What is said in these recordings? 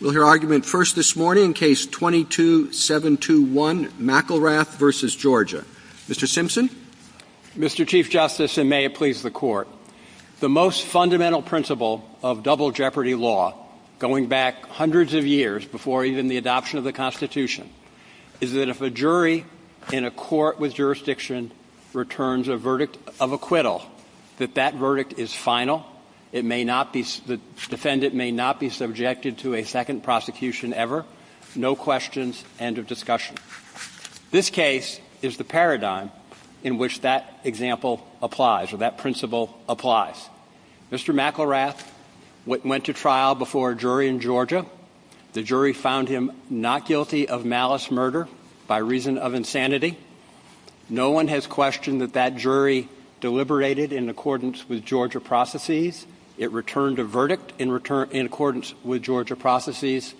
We'll hear argument first this morning in Case 22-721, McElrath v. Georgia. Mr. Simpson? Mr. Chief Justice, and may it please the Court, the most fundamental principle of double jeopardy law, going back hundreds of years before even the adoption of the Constitution, is that if a jury in a court with jurisdiction returns a verdict of acquittal, that that verdict is final, the defendant may not be subjected to a second prosecution ever, no questions, end of discussion. This case is the paradigm in which that example applies, or that principle applies. Mr. McElrath went to trial before a jury in Georgia. The jury found him not guilty of malice murder by reason of insanity. No one has questioned that that jury deliberated in accordance with Georgia processes. It returned a verdict in return – in accordance with Georgia processes.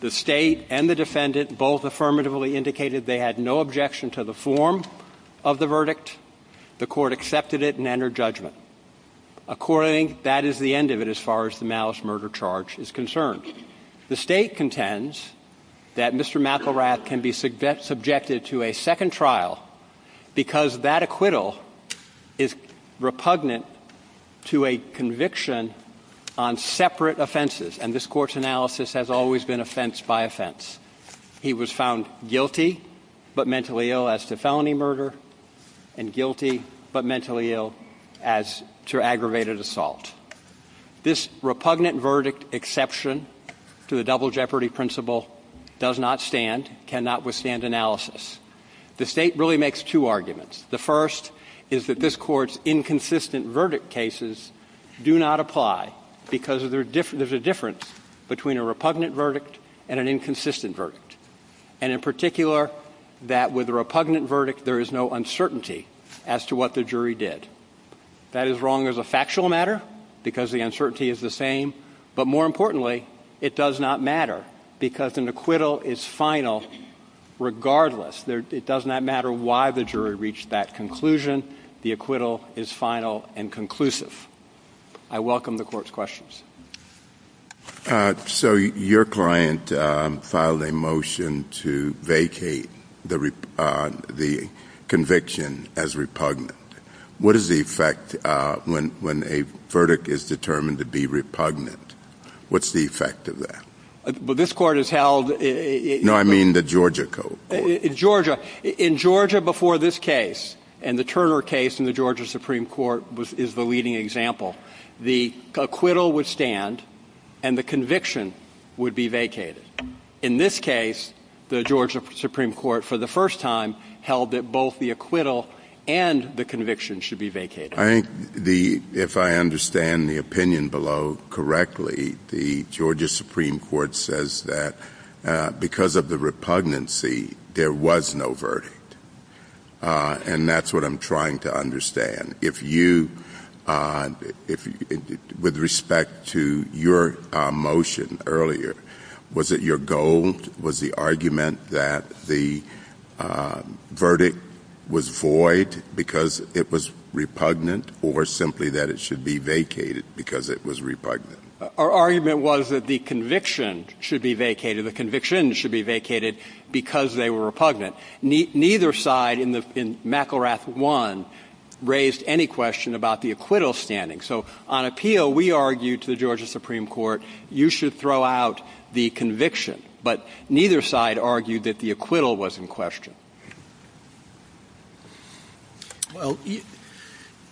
The State and the defendant both affirmatively indicated they had no objection to the form of the verdict. The Court accepted it and entered judgment. According – that is the end of it as far as the malice murder charge is concerned. The State contends that Mr. McElrath can be subjected to a second trial because that acquittal is repugnant to a conviction on separate offenses, and this Court's analysis has always been offense by offense. He was found guilty but mentally ill as to felony murder, and guilty but mentally ill as to aggravated assault. This repugnant verdict exception to the double jeopardy principle does not stand, cannot withstand analysis. The State really makes two arguments. The first is that this Court's inconsistent verdict cases do not apply because there's a difference between a repugnant verdict and an inconsistent verdict, and in particular that with a repugnant verdict there is no uncertainty as to what the jury did. That is wrong as a factual matter because the uncertainty is the same, but more importantly it does not matter because an acquittal is final regardless. It does not matter why the jury reached that conclusion. The acquittal is final and conclusive. I welcome the Court's questions. So your client filed a motion to vacate the conviction as repugnant. What is the effect when a verdict is determined to be repugnant? What's the effect of that? Well, this Court has held... No, I mean the Georgia court. Georgia. In Georgia before this case, and the Turner case in the Georgia Supreme Court is the leading example, the acquittal would stand and the conviction would be vacated. In this case, the Georgia Supreme Court for the first time held that both the acquittal and the conviction should be vacated. I think the, if I understand the opinion below correctly, the Georgia Supreme Court says that because of the repugnancy there was no verdict, with respect to your motion earlier, was it your goal, was the argument that the verdict was void because it was repugnant or simply that it should be vacated because it was repugnant? Our argument was that the conviction should be vacated. The conviction should be vacated because they were repugnant. Neither side in McElrath 1 raised any question about the acquittal standing. So on appeal, we argued to the Georgia Supreme Court, you should throw out the conviction. But neither side argued that the acquittal was in question. Well,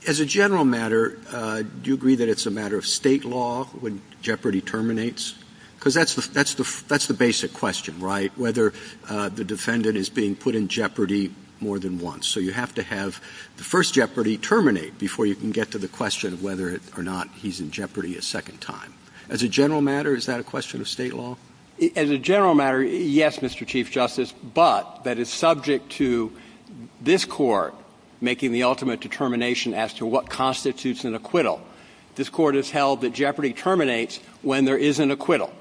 as a general matter, do you agree that it's a matter of State law when jeopardy terminates? Because that's the basic question, right? Whether the defendant is being put in jeopardy more than once. So you have to have the first jeopardy terminate before you can get to the question of whether or not he's in jeopardy a second time. As a general matter, is that a question of State law? As a general matter, yes, Mr. Chief Justice, but that is subject to this Court making the ultimate determination as to what constitutes an acquittal. This Court has held that jeopardy terminates when there is an acquittal.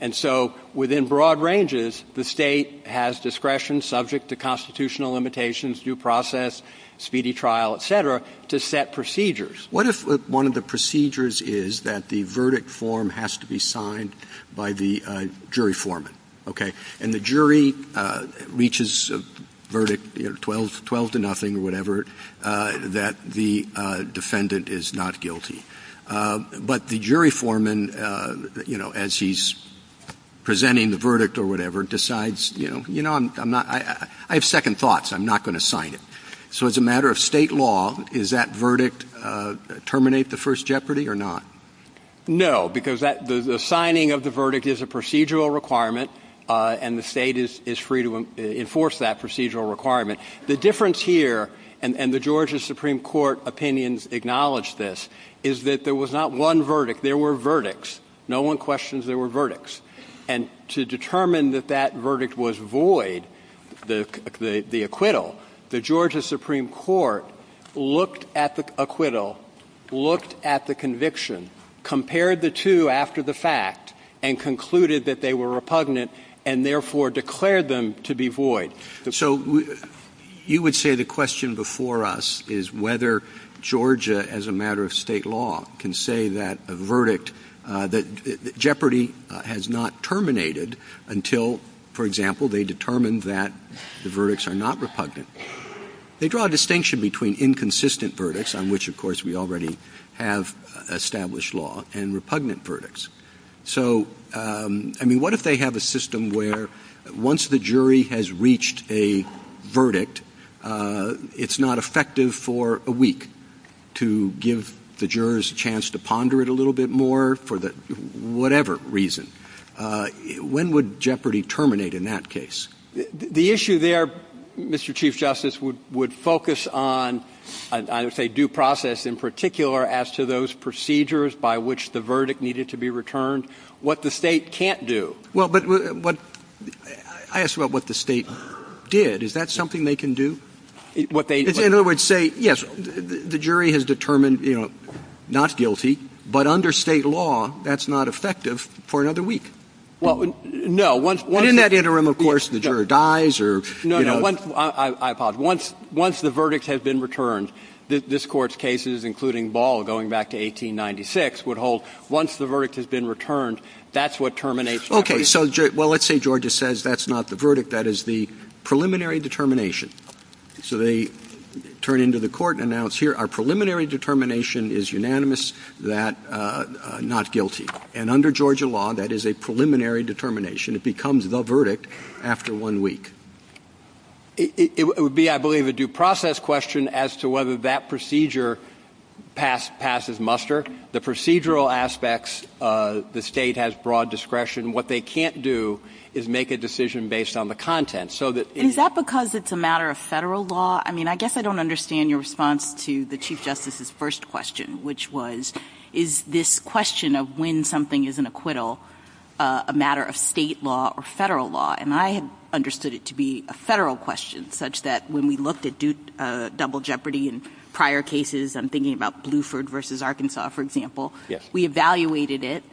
And so within broad ranges, the State has discretion subject to constitutional limitations, due process, speedy trial, et cetera, to set procedures. What if one of the procedures is that the verdict form has to be signed by the jury foreman, okay? And the jury reaches a verdict, you know, 12 to nothing or whatever, that the defendant is not guilty. But the jury foreman, you know, as he's presenting the verdict or whatever, decides, you know, I have second thoughts. I'm not going to sign it. So as a matter of State law, does that verdict terminate the first jeopardy or not? No, because the signing of the verdict is a procedural requirement, and the State is free to enforce that procedural requirement. The difference here, and the Georgia Supreme Court opinions acknowledge this, is that there was not one verdict. There were verdicts. No one questions there were verdicts. And to determine that that verdict was void, the acquittal, the Georgia Supreme Court looked at the acquittal, looked at the conviction, compared the two after the fact, and concluded that they were repugnant, and therefore declared them to be void. So you would say the question before us is whether Georgia, as a matter of State law, can say that a verdict, that jeopardy has not terminated until, for example, they determine that the verdicts are not repugnant. They draw a distinction between inconsistent verdicts, on which, of course, we already have established law, and repugnant verdicts. So, I mean, what if they have a system where once the jury has reached a verdict, it's not effective for a week to give the jurors a chance to ponder it a little bit more for the whatever reason. When would jeopardy terminate in that case? The issue there, Mr. Chief Justice, would focus on, I would say due process in particular as to those procedures by which the verdict needed to be returned, what the State can't do. Well, but what – I asked about what the State did. Is that something they can do? What they – In other words, say, yes, the jury has determined, you know, not guilty, but under State law, that's not effective for another week. Well, no. And in that interim, of course, the juror dies or, you know. No, no. I apologize. Once the verdict has been returned, this Court's cases, including Ball going back to 1896, would hold once the verdict has been returned, that's what terminates jeopardy. Okay. So, well, let's say Georgia says that's not the verdict, that is the preliminary determination. So they turn into the Court and announce, here, our preliminary determination is unanimous that not guilty. And under Georgia law, that is a preliminary determination. It becomes the verdict after one week. It would be, I believe, a due process question as to whether that procedure passes muster. The procedural aspects, the State has broad discretion. What they can't do is make a decision based on the content. So that it's – Is that because it's a matter of Federal law? I mean, I guess I don't understand your response to the Chief Justice's first question, which was, is this question of when something is an acquittal a matter of State law or Federal law? And I understood it to be a Federal question, such that when we looked at double jeopardy in prior cases, I'm thinking about Bluford v. Arkansas, for example. Yes. We evaluated it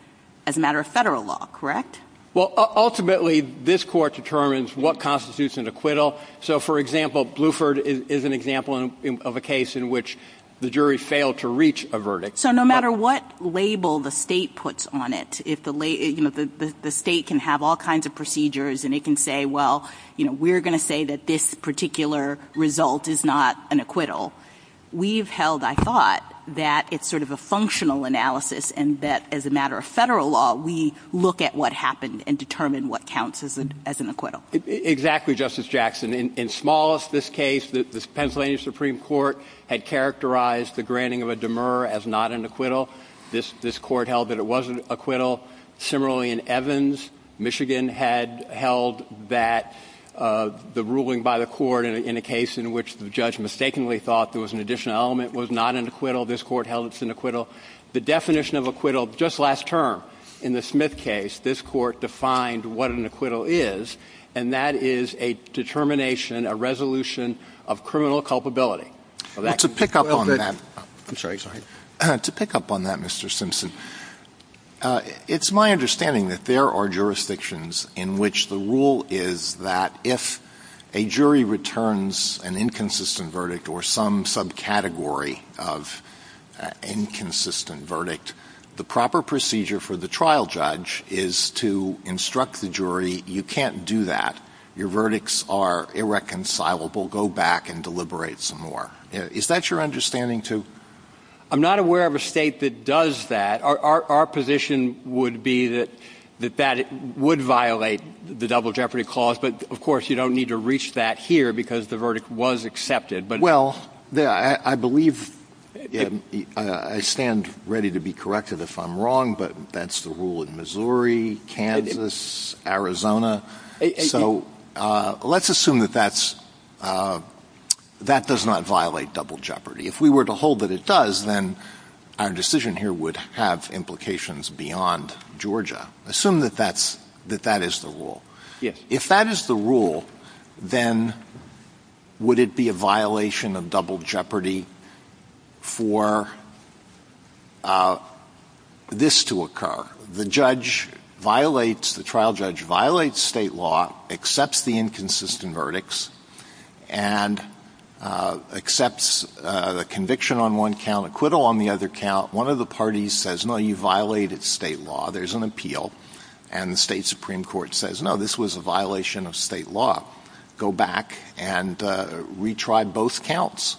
as a matter of Federal law, correct? Well, ultimately, this Court determines what constitutes an acquittal. So, for example, Bluford is an example of a case in which the jury failed to reach a verdict. So no matter what label the State puts on it, if the State can have all kinds of questions, if the State can say, well, you know, we're going to say that this particular result is not an acquittal, we've held, I thought, that it's sort of a functional analysis and that as a matter of Federal law, we look at what happened and determine what counts as an acquittal. Exactly, Justice Jackson. In smallest, this case, the Pennsylvania Supreme Court had characterized the granting of a demur as not an acquittal. This Court held that it was an acquittal. Similarly, in Evans, Michigan had held that the ruling by the Court in a case in which the judge mistakenly thought there was an additional element was not an acquittal. This Court held it's an acquittal. The definition of acquittal, just last term, in the Smith case, this Court defined what an acquittal is, and that is a determination, a resolution of criminal culpability. Well, to pick up on that. I'm sorry. Sorry. To pick up on that, Mr. Simpson, it's my understanding that there are jurisdictions in which the rule is that if a jury returns an inconsistent verdict or some subcategory of inconsistent verdict, the proper procedure for the trial judge is to instruct the jury, you can't do that, your verdicts are irreconcilable, go back and deliberate some more. Is that your understanding, too? I'm not aware of a State that does that. Our position would be that that would violate the double jeopardy clause, but of course you don't need to reach that here because the verdict was accepted. Well, I believe, I stand ready to be corrected if I'm wrong, but that's the rule in Missouri, Kansas, Arizona. So let's assume that that's, that does not violate double jeopardy. If we were to hold that it does, then our decision here would have implications beyond Georgia. Assume that that's, that that is the rule. Yes. If that is the rule, then would it be a violation of double jeopardy for this to occur? The judge violates, the trial judge violates State law, accepts the inconsistent verdicts, and accepts the conviction on one count, acquittal on the other count. One of the parties says, no, you violated State law, there's an appeal, and the State Supreme Court says, no, this was a violation of State law. Go back and retry both counts.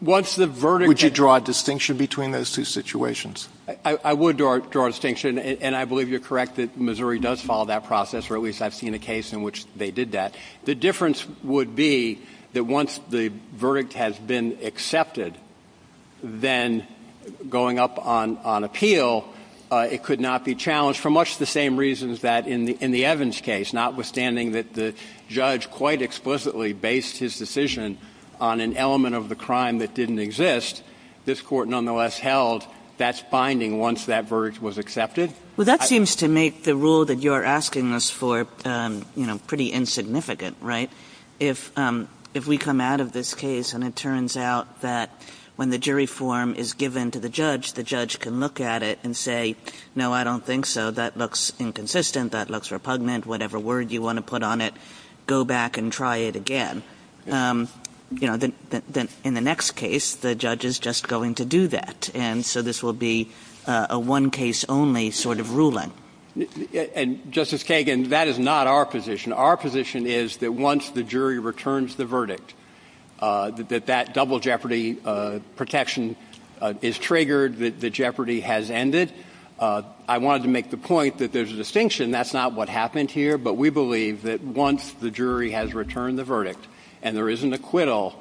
Once the verdict – Would you draw a distinction between those two situations? I would draw a distinction, and I believe you're correct that Missouri does follow that process, or at least I've seen a case in which they did that. The difference would be that once the verdict has been accepted, then going up on appeal, it could not be challenged, for much the same reasons that in the Evans case, notwithstanding that the judge quite explicitly based his decision on an element of the crime that didn't exist, this Court nonetheless held that's binding once that verdict was accepted. Well, that seems to make the rule that you're asking us for, you know, pretty insignificant, right? If we come out of this case, and it turns out that when the jury form is given to the judge, the judge can look at it and say, no, I don't think so, that looks inconsistent, that looks repugnant, whatever word you want to put on it, go back and try it again. You know, in the next case, the judge is just going to do that, and so this will be a one-case-only sort of ruling. And, Justice Kagan, that is not our position. Our position is that once the jury returns the verdict, that that double jeopardy protection is triggered, that the jeopardy has ended. I wanted to make the point that there's a distinction. That's not what happened here. But we believe that once the jury has returned the verdict and there is an acquittal,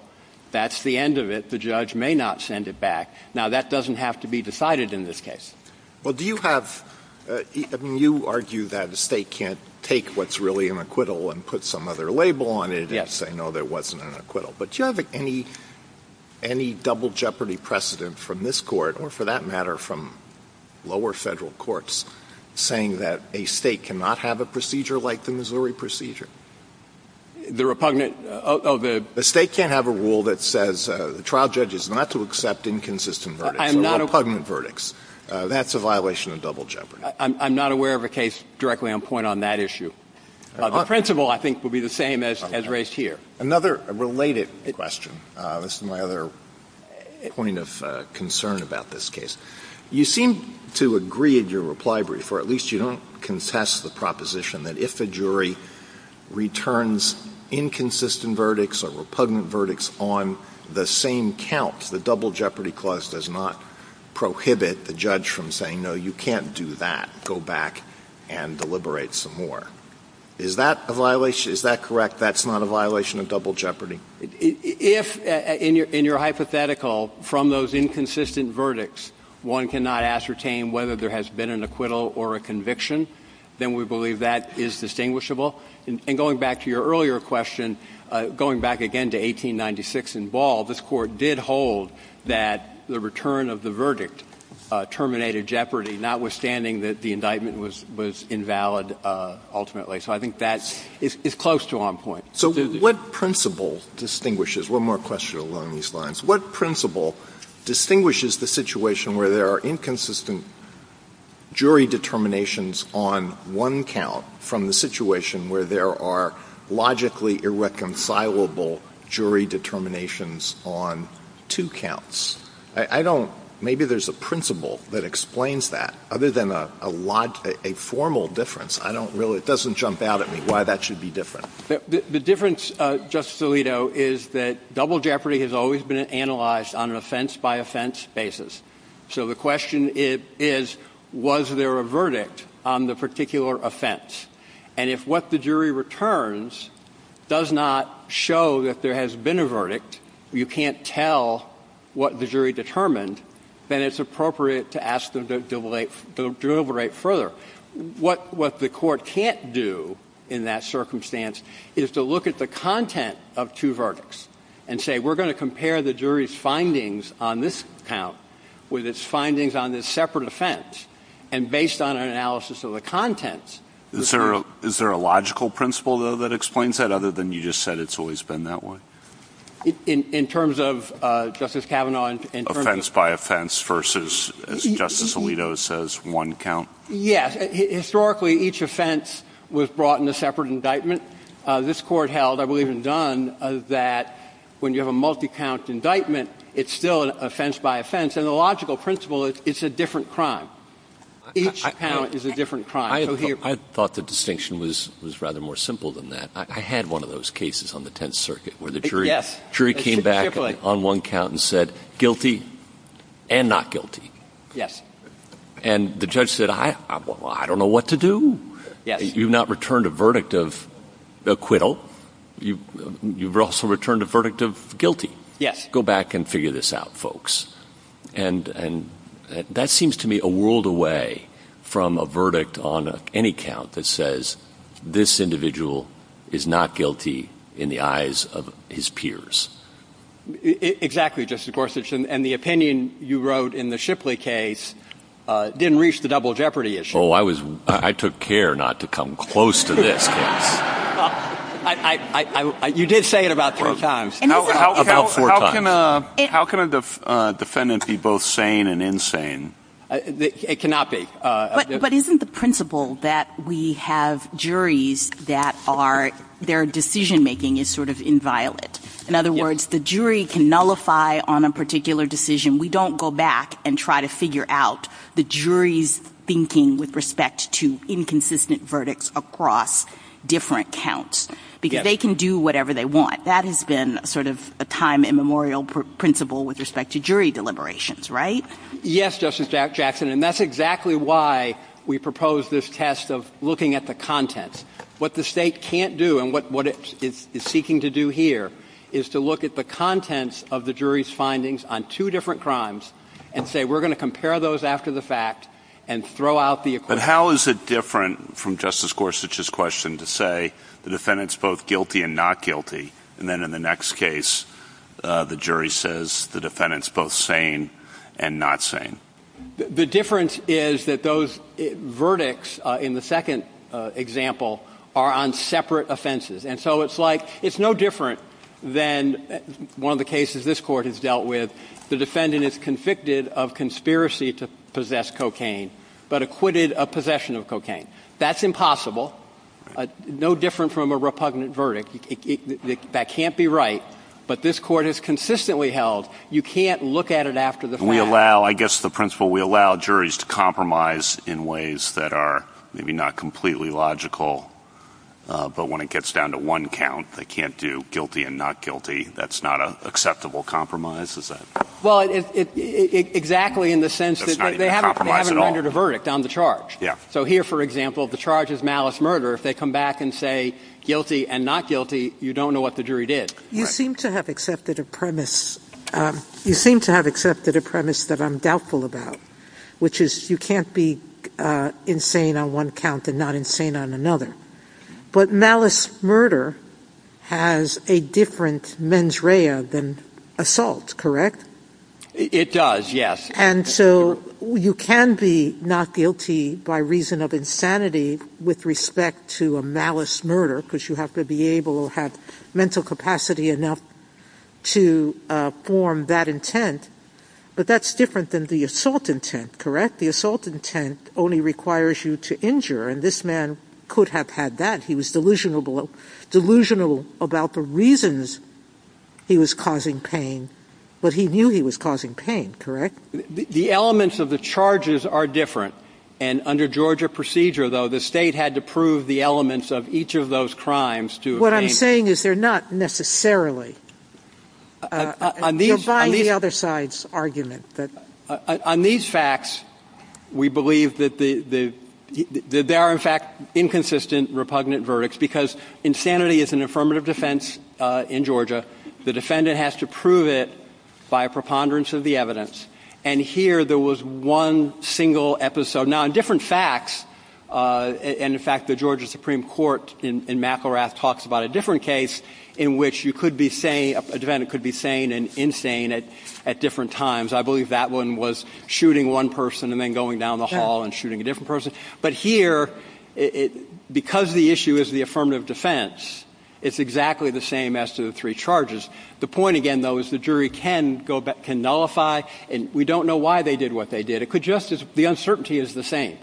that's the end of it. The judge may not send it back. Now, that doesn't have to be decided in this case. Alito. Well, do you have – I mean, you argue that a State can't take what's really an acquittal and put some other label on it and say, no, there wasn't an acquittal. Yes. But do you have any double jeopardy precedent from this Court, or for that matter from lower Federal courts, saying that a State cannot have a procedure like the Missouri procedure? The repugnant – oh, the State can't have a rule that says the trial judge is not to accept inconsistent verdicts or repugnant verdicts. That's a violation of double jeopardy. I'm not aware of a case directly on point on that issue. The principle, I think, would be the same as raised here. Another related question. This is my other point of concern about this case. You seem to agree in your reply, Briefer, at least you don't contest the proposition that if a jury returns inconsistent verdicts or repugnant verdicts on the same count, the double jeopardy clause does not prohibit the judge from saying, no, you can't do that, go back and deliberate some more. Is that a violation – is that correct, that's not a violation of double jeopardy? If, in your hypothetical, from those inconsistent verdicts, one cannot ascertain whether there has been an acquittal or a conviction, then we believe that is distinguishable. And going back to your earlier question, going back again to 1896 in Ball, this Court did hold that the return of the verdict terminated jeopardy, notwithstanding that the indictment was invalid ultimately. So I think that is close to on point. So what principle distinguishes – one more question along these lines. What principle distinguishes the situation where there are inconsistent jury determinations on one count from the situation where there are logically irreconcilable jury determinations on two counts? I don't – maybe there's a principle that explains that. Other than a lot – a formal difference, I don't really – it doesn't jump out at me why that should be different. The difference, Justice Alito, is that double jeopardy has always been analyzed on an offense-by-offense basis. So the question is, was there a verdict on the particular offense? And if what the jury returns does not show that there has been a verdict, you can't tell what the jury determined, then it's appropriate to ask them to deliberate further. What the Court can't do in that circumstance is to look at the content of two verdicts and say, we're going to compare the jury's findings on this count with its findings on this separate offense. And based on an analysis of the contents – Is there a logical principle, though, that explains that, other than you just said it's always been that way? In terms of, Justice Kavanaugh – Offense-by-offense versus, as Justice Alito says, one count. Yes. Historically, each offense was brought in a separate indictment. This Court held, I believe in Dunn, that when you have a multi-count indictment, it's still an offense-by-offense. And the logical principle is it's a different crime. Each count is a different crime. So here – I thought the distinction was rather more simple than that. I had one of those cases on the Tenth Circuit where the jury – Yes. Chippling. The jury came back on one count and said, guilty and not guilty. Yes. And the judge said, I don't know what to do. Yes. You've not returned a verdict of acquittal. You've also returned a verdict of guilty. Yes. Go back and figure this out, folks. And that seems to me a world away from a verdict on any count that says this individual is not guilty in the eyes of his peers. Exactly, Justice Gorsuch. And the opinion you wrote in the Shipley case didn't reach the double jeopardy issue. Oh, I took care not to come close to this case. You did say it about three times. About four times. How can a defendant be both sane and insane? It cannot be. But isn't the principle that we have juries that are – their decision-making is sort of inviolate? In other words, the jury can nullify on a particular decision. We don't go back and try to figure out the jury's thinking with respect to inconsistent verdicts across different counts. Because they can do whatever they want. That has been sort of a time immemorial principle with respect to jury deliberations, right? Yes, Justice Jackson. And that's exactly why we propose this test of looking at the contents. What the State can't do and what it is seeking to do here is to look at the contents of the jury's findings on two different crimes and say we're going to compare those after the fact and throw out the acquittal. But how is it different from Justice Gorsuch's question to say the defendant's both guilty and not guilty, and then in the next case the jury says the defendant's both sane and not sane? The difference is that those verdicts in the second example are on separate offenses. And so it's like – it's no different than one of the cases this Court has dealt with. The defendant is convicted of conspiracy to possess cocaine, but acquitted of possession of cocaine. That's impossible. No different from a repugnant verdict. That can't be right. But this Court has consistently held you can't look at it after the fact. I guess the principle we allow juries to compromise in ways that are maybe not completely logical. But when it gets down to one count, they can't do guilty and not guilty. That's not an acceptable compromise, is it? Well, exactly in the sense that they haven't rendered a verdict on the charge. So here, for example, the charge is malice murder. If they come back and say guilty and not guilty, you don't know what the jury did. You seem to have accepted a premise that I'm doubtful about, which is you can't be insane on one count and not insane on another. But malice murder has a different mens rea than assault, correct? It does, yes. And so you can be not guilty by reason of insanity with respect to a malice murder because you have to be able to have mental capacity enough to form that intent. But that's different than the assault intent, correct? The assault intent only requires you to injure, and this man could have had that. He was delusional about the reasons he was causing pain, but he knew he was causing pain, correct? The elements of the charges are different. And under Georgia procedure, though, the state had to prove the elements of each of those crimes. What I'm saying is they're not necessarily. You're buying the other side's argument. On these facts, we believe that there are, in fact, inconsistent, repugnant verdicts because insanity is an affirmative defense in Georgia. The defendant has to prove it by a preponderance of the evidence. And here there was one single episode. Now, in different facts, and, in fact, the Georgia Supreme Court in McElrath talks about a different case in which you could be saying a defendant could be sane and insane at different times. I believe that one was shooting one person and then going down the hall and shooting a different person. But here, because the issue is the affirmative defense, it's exactly the same as to the three charges. The point, again, though, is the jury can nullify, and we don't know why they did what they did. The uncertainty is the same.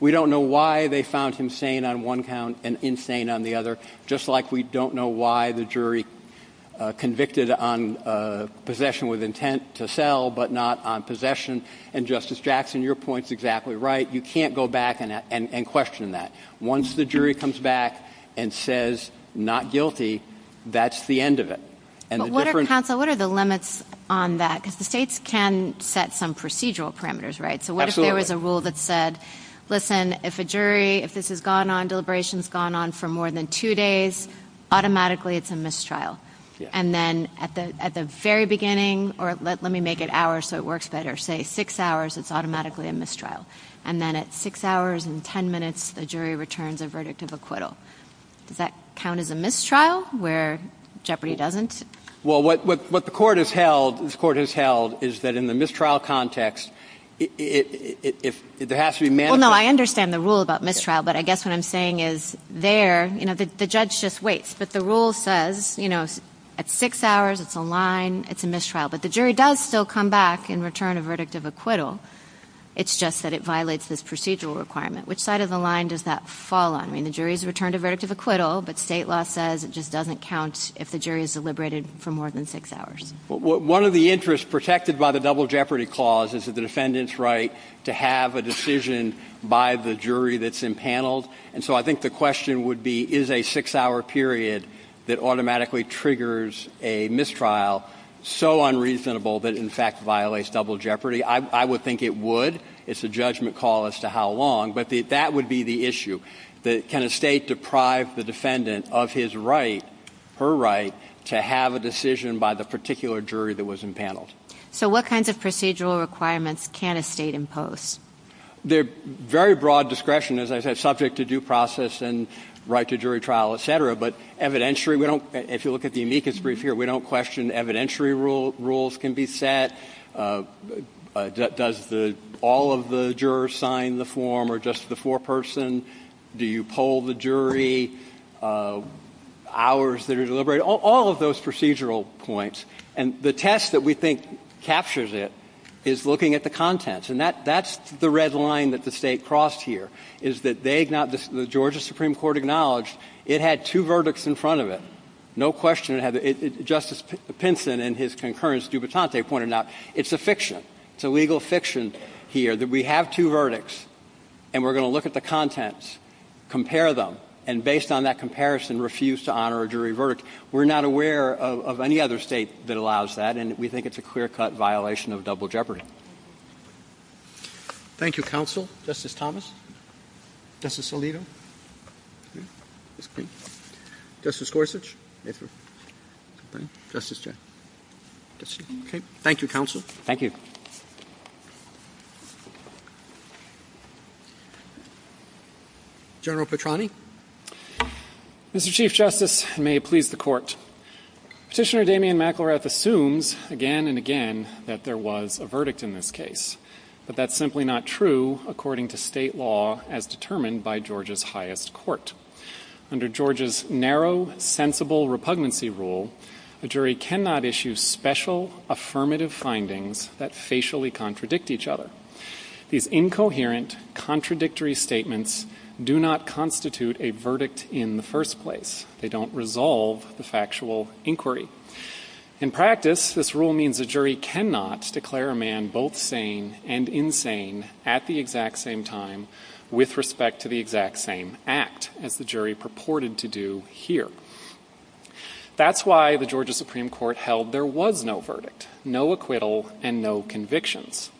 We don't know why they found him sane on one count and insane on the other, just like we don't know why the jury convicted on possession with intent to sell but not on possession. And, Justice Jackson, your point is exactly right. You can't go back and question that. Once the jury comes back and says not guilty, that's the end of it. And the different- But what are, counsel, what are the limits on that? Because the states can set some procedural parameters, right? Absolutely. So what if there was a rule that said, listen, if a jury, if this has gone on, deliberations gone on for more than two days, automatically it's a mistrial. And then at the very beginning, or let me make it hours so it works better, say six hours, it's automatically a mistrial. And then at six hours and ten minutes, the jury returns a verdict of acquittal. Does that count as a mistrial where jeopardy doesn't? Well, what the Court has held, this Court has held, is that in the mistrial context, if there has to be- Well, no, I understand the rule about mistrial, but I guess what I'm saying is there, you know, the judge just waits. But the rule says, you know, at six hours, it's a line, it's a mistrial. But the jury does still come back and return a verdict of acquittal. It's just that it violates this procedural requirement. Which side of the line does that fall on? I mean, the jury's returned a verdict of acquittal, but state law says it just doesn't count if the jury is deliberated for more than six hours. Well, one of the interests protected by the double jeopardy clause is that the defendant's right to have a decision by the jury that's impaneled. And so I think the question would be, is a six-hour period that automatically triggers a mistrial so unreasonable that it in fact violates double jeopardy? I would think it would. It's a judgment call as to how long. But that would be the issue. Can a state deprive the defendant of his right, her right, to have a decision by the particular jury that was impaneled? So what kinds of procedural requirements can a state impose? Very broad discretion, as I said, subject to due process and right to jury trial, et cetera. But evidentiary, we don't – if you look at the amicus brief here, we don't question evidentiary rules can be set. Does the – all of the jurors sign the form or just the foreperson? Do you poll the jury? Hours that are deliberated? All of those procedural points. And the test that we think captures it is looking at the contents. And that's the red line that the State crossed here, is that they – the Georgia Supreme Court acknowledged it had two verdicts in front of it. No question it had – Justice Pinson and his concurrence, Dubitante, pointed out it's a fiction. It's a legal fiction here that we have two verdicts and we're going to look at the contents, compare them, and based on that comparison, refuse to honor a jury verdict. We're not aware of any other State that allows that, and we think it's a clear-cut violation of double jeopardy. Thank you, counsel. Justice Thomas. Justice Alito. Justice Gorsuch. Thank you, counsel. Thank you. General Petrani. Mr. Chief Justice, and may it please the Court, Petitioner Damian McElrath assumes again and again that there was a verdict in this case. But that's simply not true according to State law as determined by Georgia's highest court. Under Georgia's narrow, sensible repugnancy rule, a jury cannot issue special affirmative findings that facially contradict each other. These incoherent, contradictory statements do not constitute a verdict in the first place. They don't resolve the factual inquiry. In practice, this rule means a jury cannot declare a man both sane and insane at the exact same time with respect to the exact same act, as the jury purported to do here. That's why the Georgia Supreme Court held there was no verdict, no acquittal, and no convictions.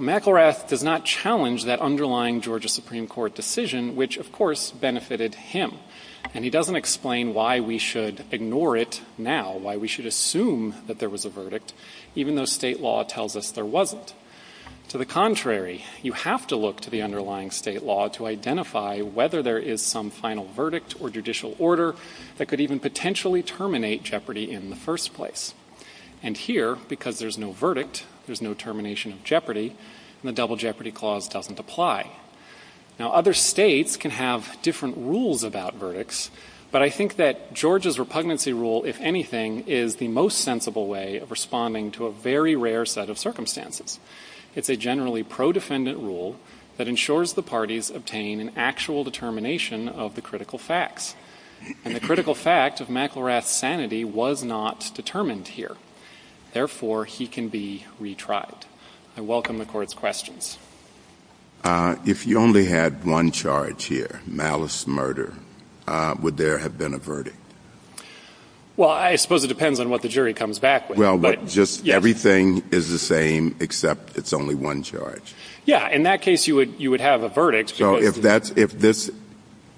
McElrath does not challenge that underlying Georgia Supreme Court decision, which, of course, benefited him. And he doesn't explain why we should ignore it now, why we should assume that there was a verdict, even though State law tells us there wasn't. To the contrary, you have to look to the underlying State law to identify whether there is some final verdict or judicial order that could even potentially terminate jeopardy in the first place. And here, because there's no verdict, there's no termination of jeopardy, the double jeopardy clause doesn't apply. Now, other States can have different rules about verdicts, but I think that Georgia's repugnancy rule, if anything, is the most sensible way of responding to a very rare set of circumstances. It's a generally pro-defendant rule that ensures the parties obtain an actual determination of the critical facts. And the critical fact of McElrath's sanity was not determined here. Therefore, he can be retried. I welcome the Court's questions. If you only had one charge here, malice, murder, would there have been a verdict? Well, I suppose it depends on what the jury comes back with. Well, but just everything is the same except it's only one charge. Yeah. In that case, you would have a verdict. So if this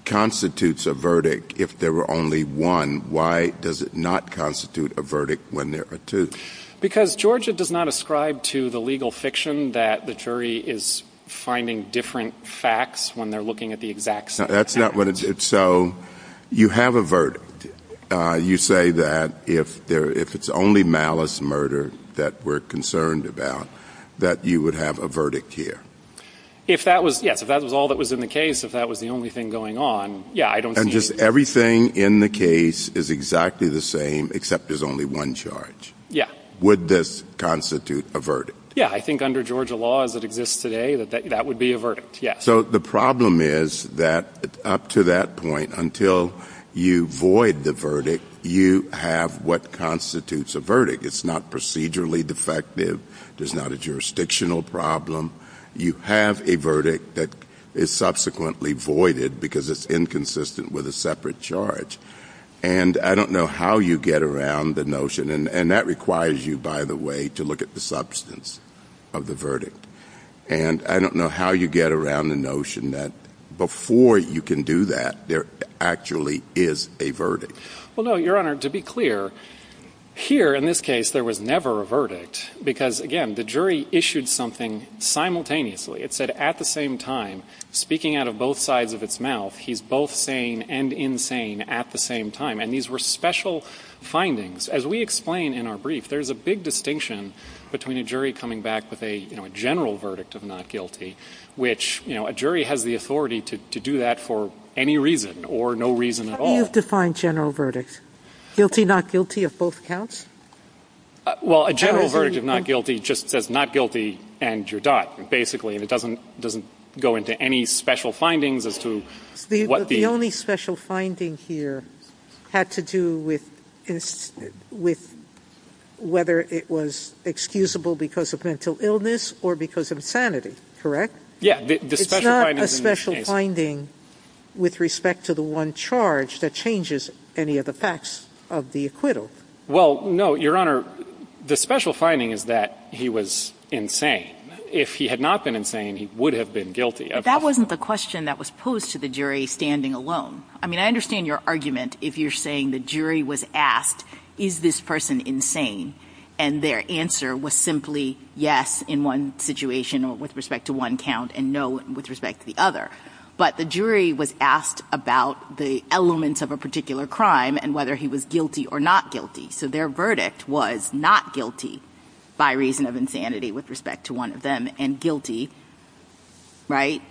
constitutes a verdict if there were only one, why does it not constitute a verdict when there are two? Because Georgia does not ascribe to the legal fiction that the jury is finding different facts when they're looking at the exact same facts. So you have a verdict. You say that if there – if it's only malice, murder that we're concerned about, that you would have a verdict here. If that was – yes, if that was all that was in the case, if that was the only thing going on, yeah, I don't see anything. And just everything in the case is exactly the same except there's only one charge. Yeah. Would this constitute a verdict? Yeah. I think under Georgia law as it exists today, that that would be a verdict, yes. So the problem is that up to that point, until you void the verdict, you have what constitutes a verdict. It's not procedurally defective. There's not a jurisdictional problem. You have a verdict that is subsequently voided because it's inconsistent with a separate charge. And I don't know how you get around the notion – and that requires you, by the way, to look at the substance of the verdict. And I don't know how you get around the notion that before you can do that, there actually is a verdict. Well, no, Your Honor, to be clear, here in this case there was never a verdict because, again, the jury issued something simultaneously. It said at the same time, speaking out of both sides of its mouth, he's both sane and insane at the same time. And these were special findings. As we explain in our brief, there's a big distinction between a jury coming back with a, you know, a general verdict of not guilty, which, you know, a jury has the authority to do that for any reason or no reason at all. How do you define general verdict? Guilty, not guilty of both counts? Well, a general verdict of not guilty just says not guilty and you're done, basically. And it doesn't go into any special findings as to what the – The special finding here had to do with whether it was excusable because of mental illness or because of insanity, correct? Yeah. It's not a special finding with respect to the one charge that changes any of the facts of the acquittal. Well, no, Your Honor, the special finding is that he was insane. If he had not been insane, he would have been guilty. That wasn't the question that was posed to the jury standing alone. I mean, I understand your argument if you're saying the jury was asked, is this person insane? And their answer was simply yes in one situation with respect to one count and no with respect to the other. But the jury was asked about the elements of a particular crime and whether he was guilty or not guilty. So their verdict was not guilty by reason of insanity with respect to one of them and guilty, right?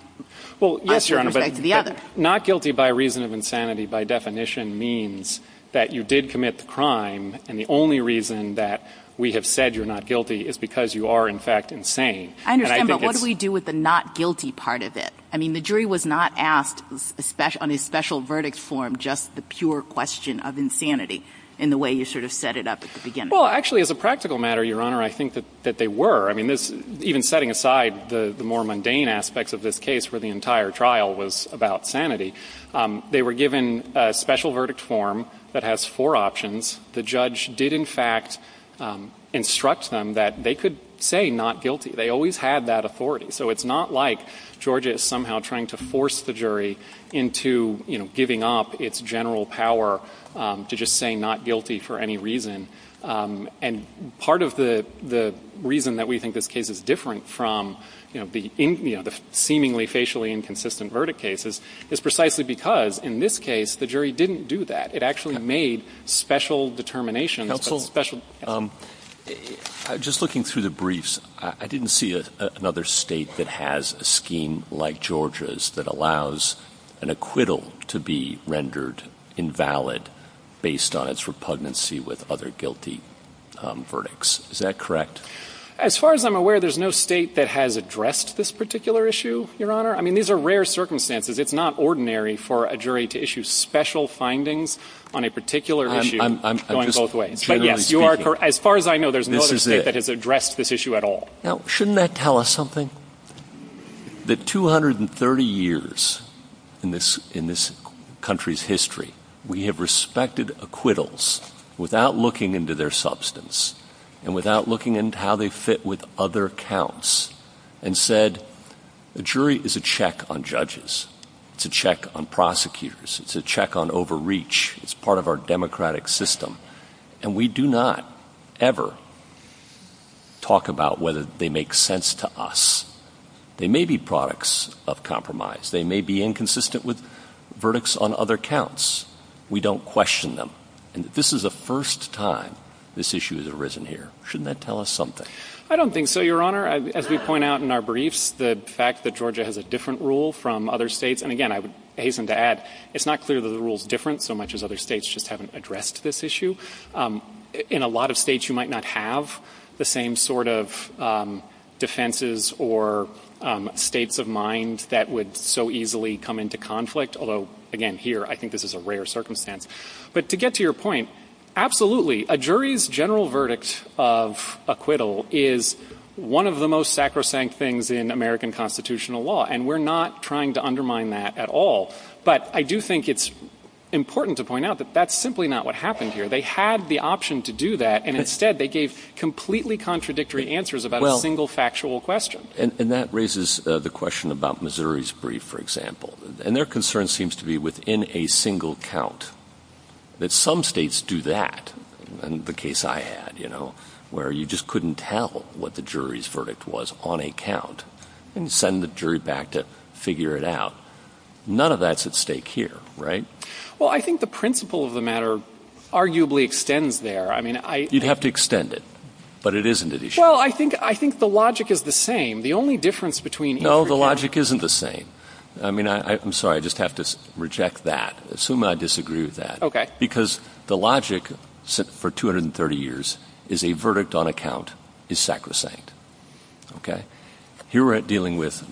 Well, yes, Your Honor. With respect to the other. Not guilty by reason of insanity, by definition, means that you did commit the crime and the only reason that we have said you're not guilty is because you are, in fact, insane. I understand, but what do we do with the not guilty part of it? I mean, the jury was not asked on a special verdict form just the pure question of insanity in the way you sort of set it up at the beginning. Well, actually, as a practical matter, Your Honor, I think that they were. I mean, even setting aside the more mundane aspects of this case where the entire trial was about sanity, they were given a special verdict form that has four options. The judge did, in fact, instruct them that they could say not guilty. They always had that authority. So it's not like Georgia is somehow trying to force the jury into, you know, giving up its general power to just say not guilty for any reason. And part of the reason that we think this case is different from, you know, the seemingly facially inconsistent verdict cases is precisely because in this case the jury didn't do that. It actually made special determinations. But special. Roberts. Just looking through the briefs, I didn't see another State that has a scheme like Georgia's that allows an acquittal to be rendered invalid based on its repugnancy with other guilty verdicts. Is that correct? As far as I'm aware, there's no State that has addressed this particular issue, Your Honor. I mean, these are rare circumstances. It's not ordinary for a jury to issue special findings on a particular issue going both ways. But, yes, you are correct. As far as I know, there's no other State that has addressed this issue at all. Now, shouldn't that tell us something? That 230 years in this country's history, we have respected acquittals without looking into their substance and without looking into how they fit with other counts and said, a jury is a check on judges. It's a check on prosecutors. It's a check on overreach. It's part of our democratic system. And we do not ever talk about whether they make sense to us. They may be products of compromise. They may be inconsistent with verdicts on other counts. We don't question them. And this is the first time this issue has arisen here. Shouldn't that tell us something? I don't think so, Your Honor. As we point out in our briefs, the fact that Georgia has a different rule from other States, and, again, I would hasten to add, it's not clear that the rule is different so much as other States just haven't addressed this issue. In a lot of States, you might not have the same sort of defenses or states of mind that would so easily come into conflict, although, again, here, I think this is a rare circumstance. But to get to your point, absolutely, a jury's general verdict of acquittal is one of the most sacrosanct things in American constitutional law, and we're not trying to undermine that at all. But I do think it's important to point out that that's simply not what happened here. They had the option to do that, and, instead, they gave completely contradictory answers about a single factual question. And that raises the question about Missouri's brief, for example. And their concern seems to be within a single count that some States do that, and the case I had, you know, where you just couldn't tell what the jury's verdict was on a count and send the jury back to figure it out. None of that's at stake here, right? Well, I think the principle of the matter arguably extends there. I mean, I — You'd have to extend it. But it isn't an issue. Well, I think the logic is the same. The only difference between each — No, the logic isn't the same. I mean, I'm sorry. I just have to reject that. Assume I disagree with that. Okay. Because the logic for 230 years is a verdict on a count is sacrosanct. Okay? Here we're dealing with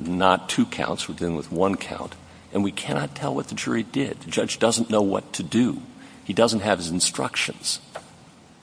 not two counts. We're dealing with one count. And we cannot tell what the jury did. The judge doesn't know what to do. He doesn't have his instructions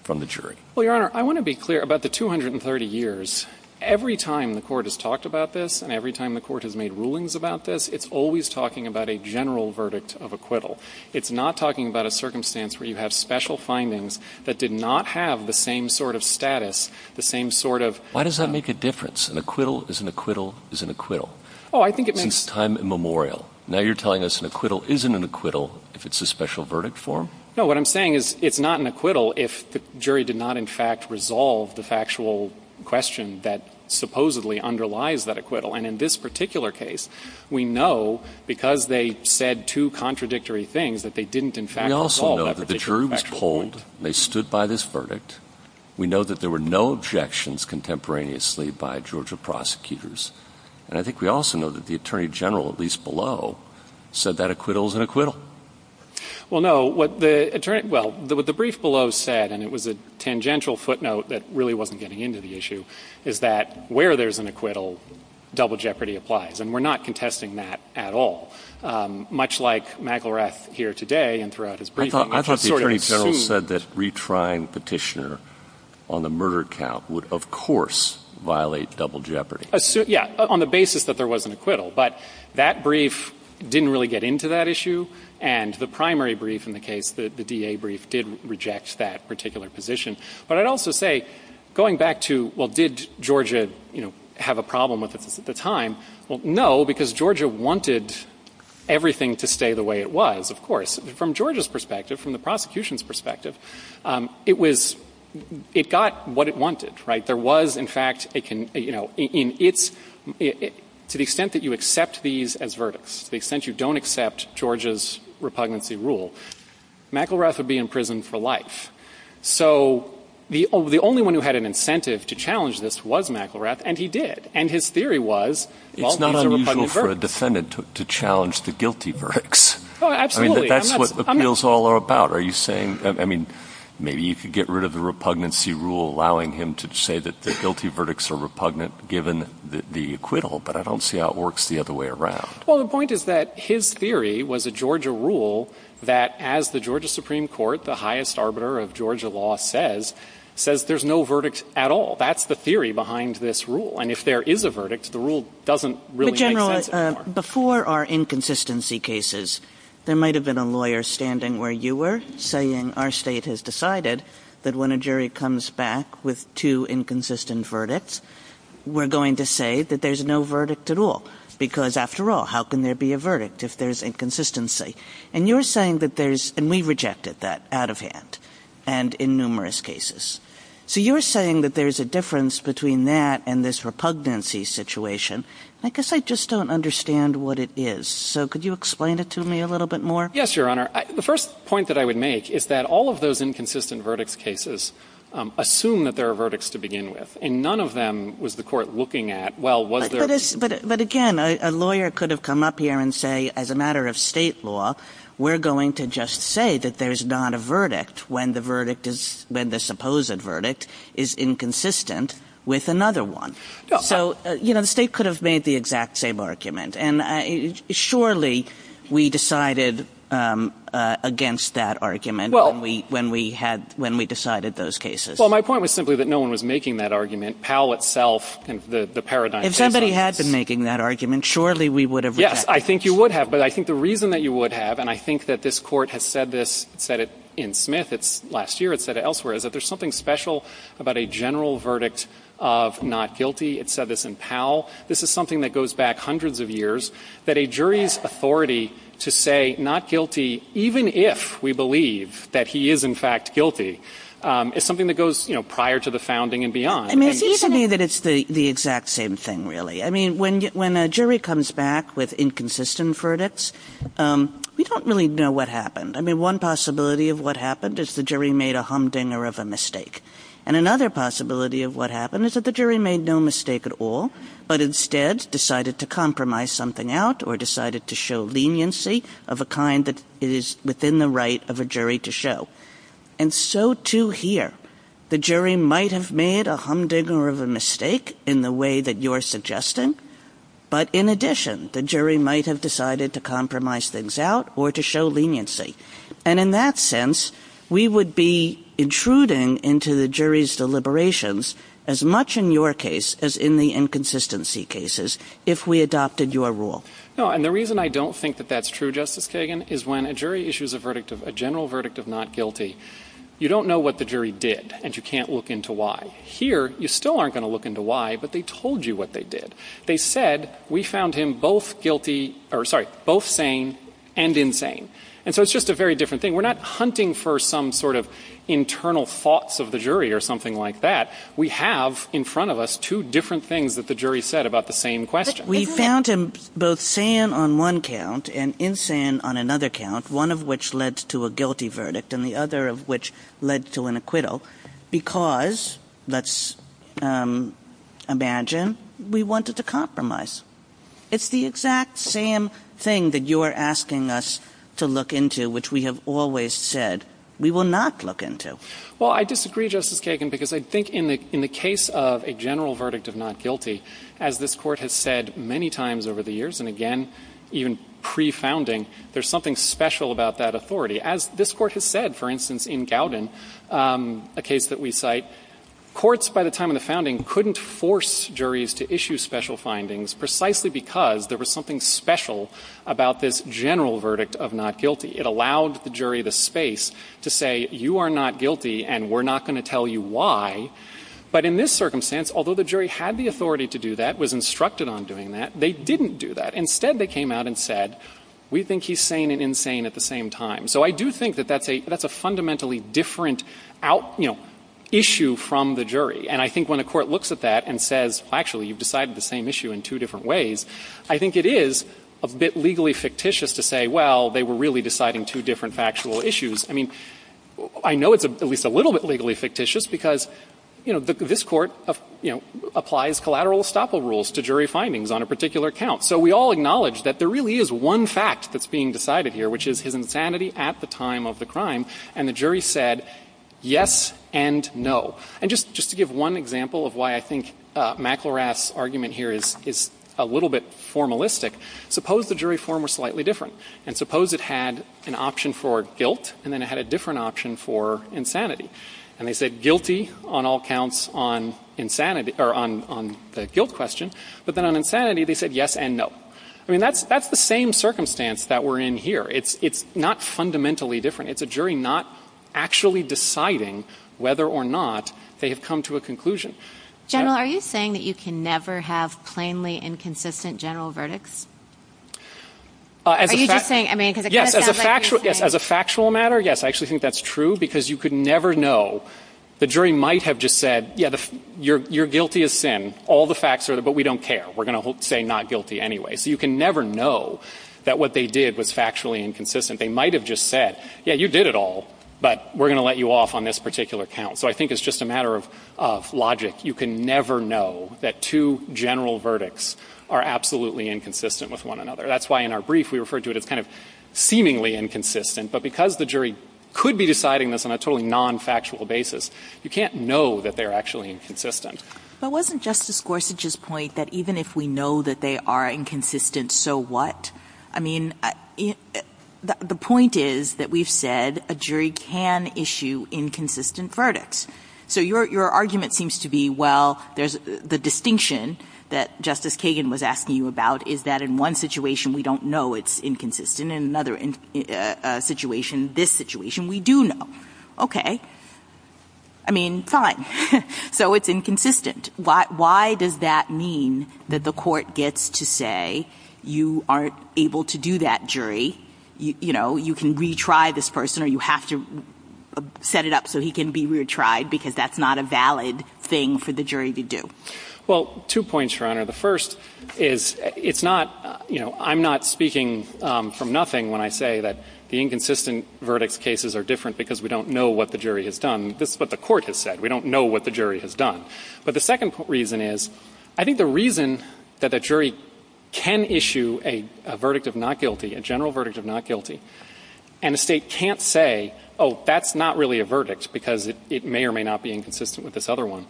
from the jury. Well, Your Honor, I want to be clear about the 230 years. Every time the Court has talked about this and every time the Court has made rulings about this, it's always talking about a general verdict of acquittal. It's not talking about a circumstance where you have special findings that did not have the same sort of status, the same sort of — Why does that make a difference? An acquittal is an acquittal is an acquittal. Oh, I think it makes — Since time immemorial. Now you're telling us an acquittal isn't an acquittal if it's a special verdict form? No. What I'm saying is it's not an acquittal if the jury did not, in fact, resolve the factual question that supposedly underlies that acquittal. And in this particular case, we know because they said two contradictory things that they didn't, in fact, resolve that particular factual point. We also know that the jury was polled. They stood by this verdict. We know that there were no objections contemporaneously by Georgia prosecutors. And I think we also know that the attorney general, at least below, said that acquittal is an acquittal. Well, no. What the attorney — well, what the brief below said, and it was a tangential footnote that really wasn't getting into the issue, is that where there's an acquittal, double jeopardy applies. And we're not contesting that at all. Much like McElrath here today and throughout his briefing, which is sort of assumed You said that retrying Petitioner on the murder count would, of course, violate double jeopardy. Yeah, on the basis that there was an acquittal. But that brief didn't really get into that issue. And the primary brief in the case, the DA brief, did reject that particular position. But I'd also say, going back to, well, did Georgia, you know, have a problem with this at the time? From Georgia's perspective, from the prosecution's perspective, it was — it got what it wanted, right? There was, in fact, a — you know, in its — to the extent that you accept these as verdicts, to the extent you don't accept Georgia's repugnancy rule, McElrath would be in prison for life. So the only one who had an incentive to challenge this was McElrath, and he did. And his theory was, well, these are repugnant verdicts. It's not unusual for a defendant to challenge the guilty verdicts. Oh, absolutely. I'm not — I mean, that's what appeals all are about. Are you saying — I mean, maybe you could get rid of the repugnancy rule allowing him to say that the guilty verdicts are repugnant given the acquittal, but I don't see how it works the other way around. Well, the point is that his theory was a Georgia rule that, as the Georgia Supreme Court, the highest arbiter of Georgia law says, says there's no verdict at all. That's the theory behind this rule. And if there is a verdict, the rule doesn't really make sense anymore. But before our inconsistency cases, there might have been a lawyer standing where you were saying our state has decided that when a jury comes back with two inconsistent verdicts, we're going to say that there's no verdict at all, because, after all, how can there be a verdict if there's inconsistency? And you're saying that there's — and we rejected that out of hand and in numerous cases. So you're saying that there's a difference between that and this repugnancy situation. I guess I just don't understand what it is. So could you explain it to me a little bit more? Yes, Your Honor. The first point that I would make is that all of those inconsistent verdicts cases assume that there are verdicts to begin with, and none of them was the court looking at, well, was there — But again, a lawyer could have come up here and say, as a matter of State law, we're going to just say that there's not a verdict when the verdict is — when the supposed verdict is inconsistent with another one. So, you know, the State could have made the exact same argument. And surely we decided against that argument when we — when we had — when we decided those cases. Well, my point was simply that no one was making that argument. Powell itself and the paradigm — If somebody had been making that argument, surely we would have rejected it. Yes, I think you would have. But I think the reason that you would have, and I think that this Court has said this, said it in Smith, it's — last year it said it elsewhere, is that there's something special about a general verdict of not guilty. It said this in Powell. This is something that goes back hundreds of years, that a jury's authority to say not guilty, even if we believe that he is, in fact, guilty, is something that goes, you know, prior to the founding and beyond. I mean, it seems to me that it's the exact same thing, really. I mean, when a jury comes back with inconsistent verdicts, we don't really know what happened. I mean, one possibility of what happened is the jury made a humdinger of a mistake. And another possibility of what happened is that the jury made no mistake at all, but instead decided to compromise something out or decided to show leniency of a kind that is within the right of a jury to show. And so, too, here, the jury might have made a humdinger of a mistake in the way that you're suggesting, but in addition, the jury might have decided to compromise things out or to show leniency. And in that sense, we would be intruding into the jury's deliberations as much in your case as in the inconsistency cases if we adopted your rule. No. And the reason I don't think that that's true, Justice Kagan, is when a jury issues a verdict, a general verdict of not guilty, you don't know what the jury did, and you can't look into why. Here, you still aren't going to look into why, but they told you what they did. They said, we found him both sane and insane. And so it's just a very different thing. We're not hunting for some sort of internal thoughts of the jury or something like that. We have in front of us two different things that the jury said about the same question. We found him both sane on one count and insane on another count, one of which led to a guilty verdict and the other of which led to an acquittal because, let's imagine, we wanted to compromise. It's the exact same thing that you're asking us to look into, which we have always said we will not look into. Well, I disagree, Justice Kagan, because I think in the case of a general verdict of not guilty, as this Court has said many times over the years, and again, even pre-founding, there's something special about that authority. As this Court has said, for instance, in Gowden, a case that we cite, courts by the time of the founding couldn't force juries to issue special findings precisely because there was something special about this general verdict of not guilty. It allowed the jury the space to say, you are not guilty and we're not going to tell you why. But in this circumstance, although the jury had the authority to do that, was instructed on doing that, they didn't do that. Instead, they came out and said, we think he's sane and insane at the same time. So I do think that that's a fundamentally different issue from the jury. And I think when a court looks at that and says, well, actually, you've decided the same issue in two different ways, I think it is a bit legally fictitious to say, well, they were really deciding two different factual issues. I mean, I know it's at least a little bit legally fictitious because, you know, this Court, you know, applies collateral estoppel rules to jury findings on a particular count. So we all acknowledge that there really is one fact that's being decided here, which is his insanity at the time of the crime, and the jury said yes and no. And just to give one example of why I think McElrath's argument here is a little bit formalistic, suppose the jury form were slightly different, and suppose it had an option for guilt and then it had a different option for insanity. And they said guilty on all counts on insanity or on the guilt question, but then on insanity they said yes and no. I mean, that's the same circumstance that we're in here. It's not fundamentally different. It's a jury not actually deciding whether or not they have come to a conclusion. General, are you saying that you can never have plainly inconsistent general verdicts? Are you just saying, I mean, because it kind of sounds like what you're saying. Yes, as a factual matter, yes, I actually think that's true because you could never know. The jury might have just said, yeah, you're guilty of sin, all the facts are there, but we don't care. We're going to say not guilty anyway. So you can never know that what they did was factually inconsistent. They might have just said, yeah, you did it all, but we're going to let you off on this particular count. So I think it's just a matter of logic. You can never know that two general verdicts are absolutely inconsistent with one another. That's why in our brief we referred to it as kind of seemingly inconsistent, but because the jury could be deciding this on a totally nonfactual basis, you can't know that they're actually inconsistent. But wasn't Justice Gorsuch's point that even if we know that they are inconsistent, so what? I mean, the point is that we've said a jury can issue inconsistent verdicts. So your argument seems to be, well, the distinction that Justice Kagan was asking you about is that in one situation we don't know it's inconsistent and in another situation, this situation, we do know. Okay. I mean, fine. So it's inconsistent. Why does that mean that the Court gets to say you aren't able to do that, jury? You know, you can retry this person or you have to set it up so he can be retried because that's not a valid thing for the jury to do. Well, two points, Your Honor. The first is it's not, you know, I'm not speaking from nothing when I say that the inconsistent verdicts cases are different because we don't know what the jury has done. This is what the Court has said. We don't know what the jury has done. But the second reason is I think the reason that a jury can issue a verdict of not guilty, a general verdict of not guilty, and a State can't say, oh, that's not really a verdict because it may or may not be inconsistent with this other one,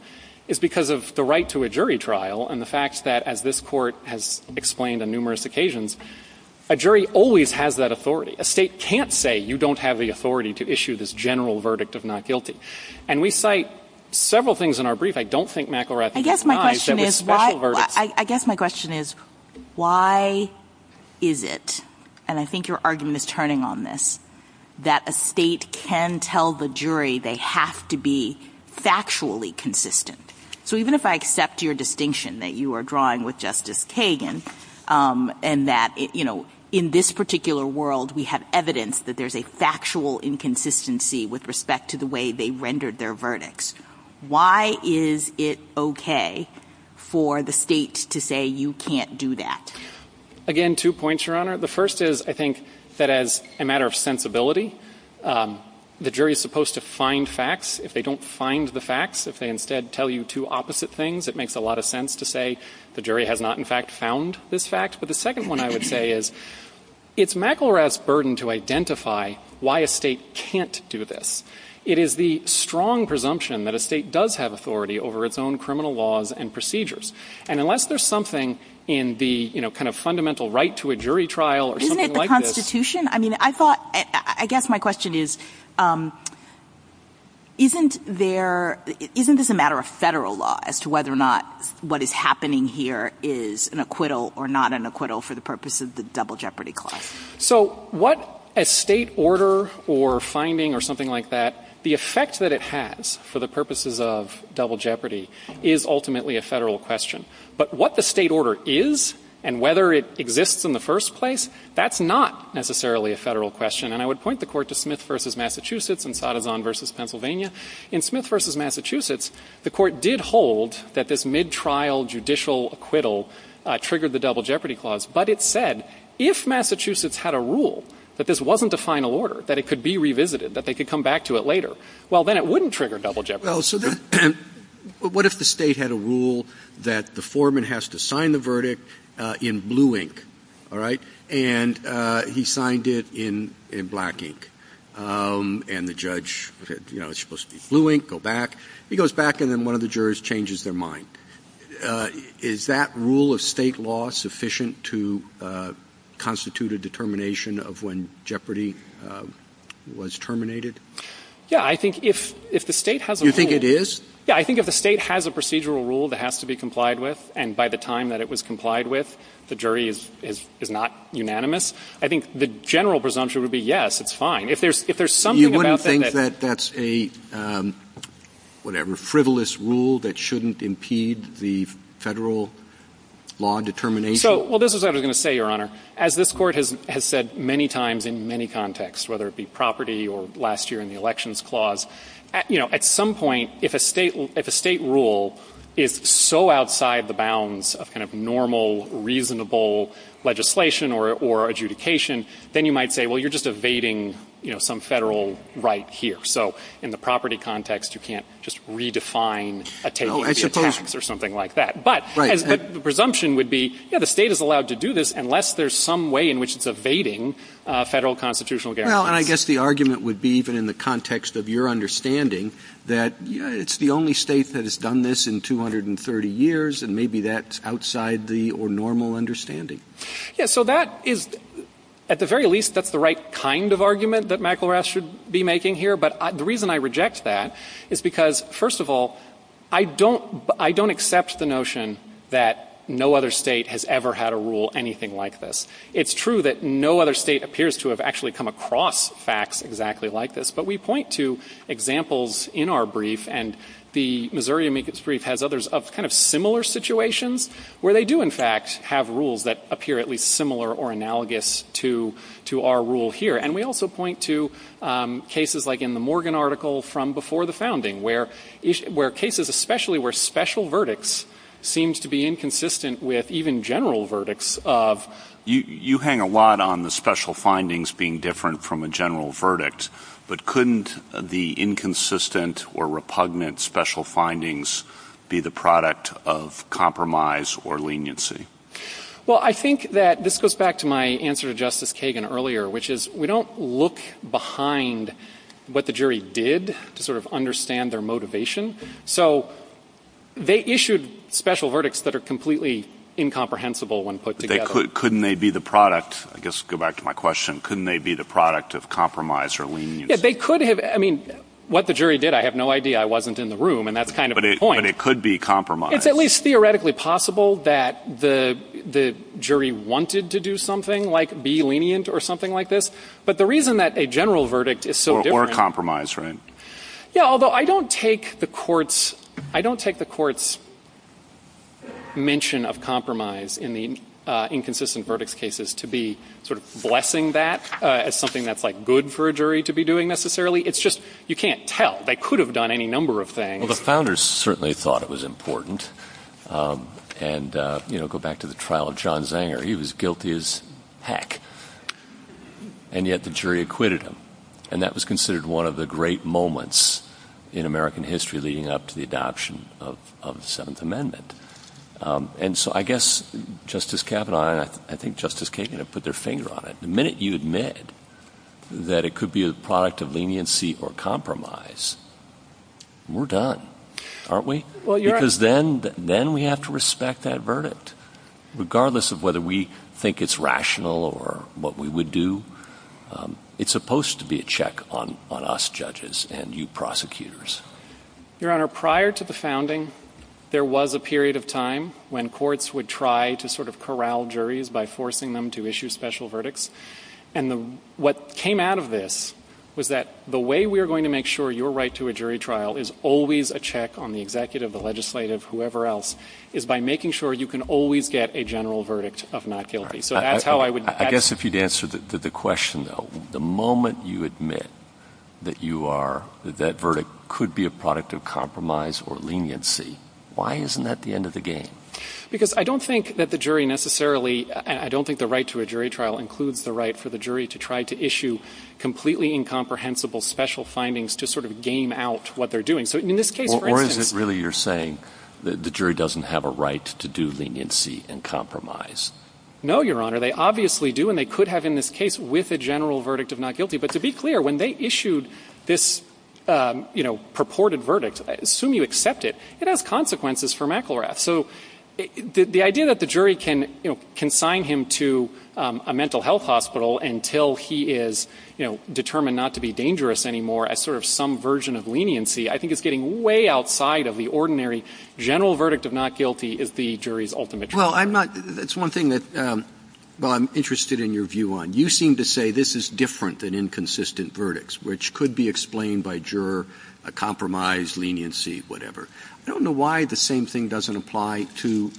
is because of the right to a jury trial and the fact that, as this Court has explained on numerous occasions, a jury always has that authority. A State can't say you don't have the authority to issue this general verdict of not guilty. And we cite several things in our brief. I don't think McElrathy denies that with special verdicts. I guess my question is, why is it, and I think your argument is turning on this, that a State can tell the jury they have to be factually consistent? So even if I accept your distinction that you are drawing with Justice Kagan and that, you know, in this particular world we have evidence that there's a factual inconsistency with respect to the way they rendered their verdicts, why is it okay for the State to say you can't do that? Again, two points, Your Honor. The first is I think that as a matter of sensibility, the jury is supposed to find facts. If they don't find the facts, if they instead tell you two opposite things, it makes a lot of sense to say the jury has not in fact found this fact. But the second one I would say is it's McElrath's burden to identify why a State can't do this. It is the strong presumption that a State does have authority over its own criminal laws and procedures. And unless there's something in the, you know, kind of fundamental right to a jury trial or something like this. Isn't it the Constitution? I mean, I thought, I guess my question is, isn't there, isn't this a matter of Federal law as to whether or not what is happening here is an acquittal or not an acquittal for the purpose of the Double Jeopardy Clause? So what a State order or finding or something like that, the effect that it has for the purposes of Double Jeopardy is ultimately a Federal question. But what the State order is and whether it exists in the first place, that's not necessarily a Federal question. And I would point the Court to Smith v. Massachusetts and Sadezon v. Pennsylvania. In Smith v. Massachusetts, the Court did hold that this midtrial judicial acquittal triggered the Double Jeopardy Clause. But it said, if Massachusetts had a rule that this wasn't a final order, that it could be revisited, that they could come back to it later, well, then it wouldn't trigger Double Jeopardy. Roberts. So what if the State had a rule that the foreman has to sign the verdict in blue ink, all right, and he signed it in black ink? And the judge, you know, it's supposed to be blue ink, go back. He goes back and then one of the jurors changes their mind. Is that rule of State law sufficient to constitute a determination of when Jeopardy was terminated? Yeah. I think if the State has a rule. You think it is? Yeah. I think if the State has a procedural rule that has to be complied with, and by the time that it was complied with, the jury is not unanimous, I think the general presumption would be, yes, it's fine. If there's something about that that's You wouldn't think that that's a, whatever, frivolous rule that shouldn't impede the Federal law determination? So, well, this is what I was going to say, Your Honor. As this Court has said many times in many contexts, whether it be property or last year in the Elections Clause, you know, at some point, if a State rule is so outside the bounds of kind of normal, reasonable legislation or adjudication, then you might say, well, you're just evading, you know, some Federal right here. So in the property context, you can't just redefine a taking of a tax or something like that. But the presumption would be, yeah, the State is allowed to do this unless there's some way in which it's evading Federal constitutional guarantees. Well, and I guess the argument would be, even in the context of your understanding that it's the only State that has done this in 230 years, and maybe that's outside the or normal understanding. Yeah. So that is, at the very least, that's the right kind of argument that McElrath should be making here. But the reason I reject that is because, first of all, I don't accept the notion that no other State has ever had a rule anything like this. It's true that no other State appears to have actually come across facts exactly like this. But we point to examples in our brief, and the Missouri amicus brief has others of kind of similar situations where they do, in fact, have rules that appear at least similar or analogous to our rule here. And we also point to cases like in the Morgan article from before the founding, where cases especially where special verdicts seems to be inconsistent with even general verdicts of. You hang a lot on the special findings being different from a general verdict, but couldn't the inconsistent or repugnant special findings be the product of compromise or leniency? Well, I think that this goes back to my answer to Justice Kagan earlier, which is we don't look behind what the jury did to sort of understand their motivation. So they issued special verdicts that are completely incomprehensible when put together. But couldn't they be the product, I guess to go back to my question, couldn't they be the product of compromise or leniency? Yeah, they could have. I mean, what the jury did, I have no idea. I wasn't in the room, and that's kind of the point. But it could be compromise. It's at least theoretically possible that the jury wanted to do something like be lenient. But the reason that a general verdict is so different. Or compromise, right? Yeah, although I don't take the court's mention of compromise in the inconsistent verdicts cases to be sort of blessing that as something that's like good for a jury to be doing necessarily. It's just you can't tell. They could have done any number of things. Well, the founders certainly thought it was important. And, you know, go back to the trial of John Zanger. He was guilty as heck. And yet the jury acquitted him. And that was considered one of the great moments in American history leading up to the adoption of the Seventh Amendment. And so I guess Justice Kavanaugh and I think Justice Kagan have put their finger on it. The minute you admit that it could be a product of leniency or compromise, we're done, aren't we? Because then we have to respect that verdict. Regardless of whether we think it's rational or what we would do, it's supposed to be a check on us judges and you prosecutors. Your Honor, prior to the founding, there was a period of time when courts would try to sort of corral juries by forcing them to issue special verdicts. And what came out of this was that the way we are going to make sure your right to a jury trial is always a check on the executive, the legislative, whoever else, is by making sure you can always get a general verdict of not guilty. So that's how I would ---- I guess if you'd answer the question, though, the moment you admit that you are ---- that that verdict could be a product of compromise or leniency, why isn't that the end of the game? Because I don't think that the jury necessarily ---- I don't think the right to a jury trial includes the right for the jury to try to issue completely incomprehensible special findings to sort of game out what they're doing. So in this case, for instance ---- The jury doesn't have a right to do leniency and compromise. No, Your Honor. They obviously do, and they could have in this case with a general verdict of not guilty. But to be clear, when they issued this, you know, purported verdict, assume you accept it, it has consequences for McElrath. So the idea that the jury can, you know, consign him to a mental health hospital until he is, you know, determined not to be dangerous anymore as sort of some version of leniency, I think is getting way outside of the ordinary general verdict of not guilty is the jury's ultimate choice. Well, I'm not ---- that's one thing that, well, I'm interested in your view on. You seem to say this is different than inconsistent verdicts, which could be explained by juror, a compromise, leniency, whatever. I don't know why the same thing doesn't apply to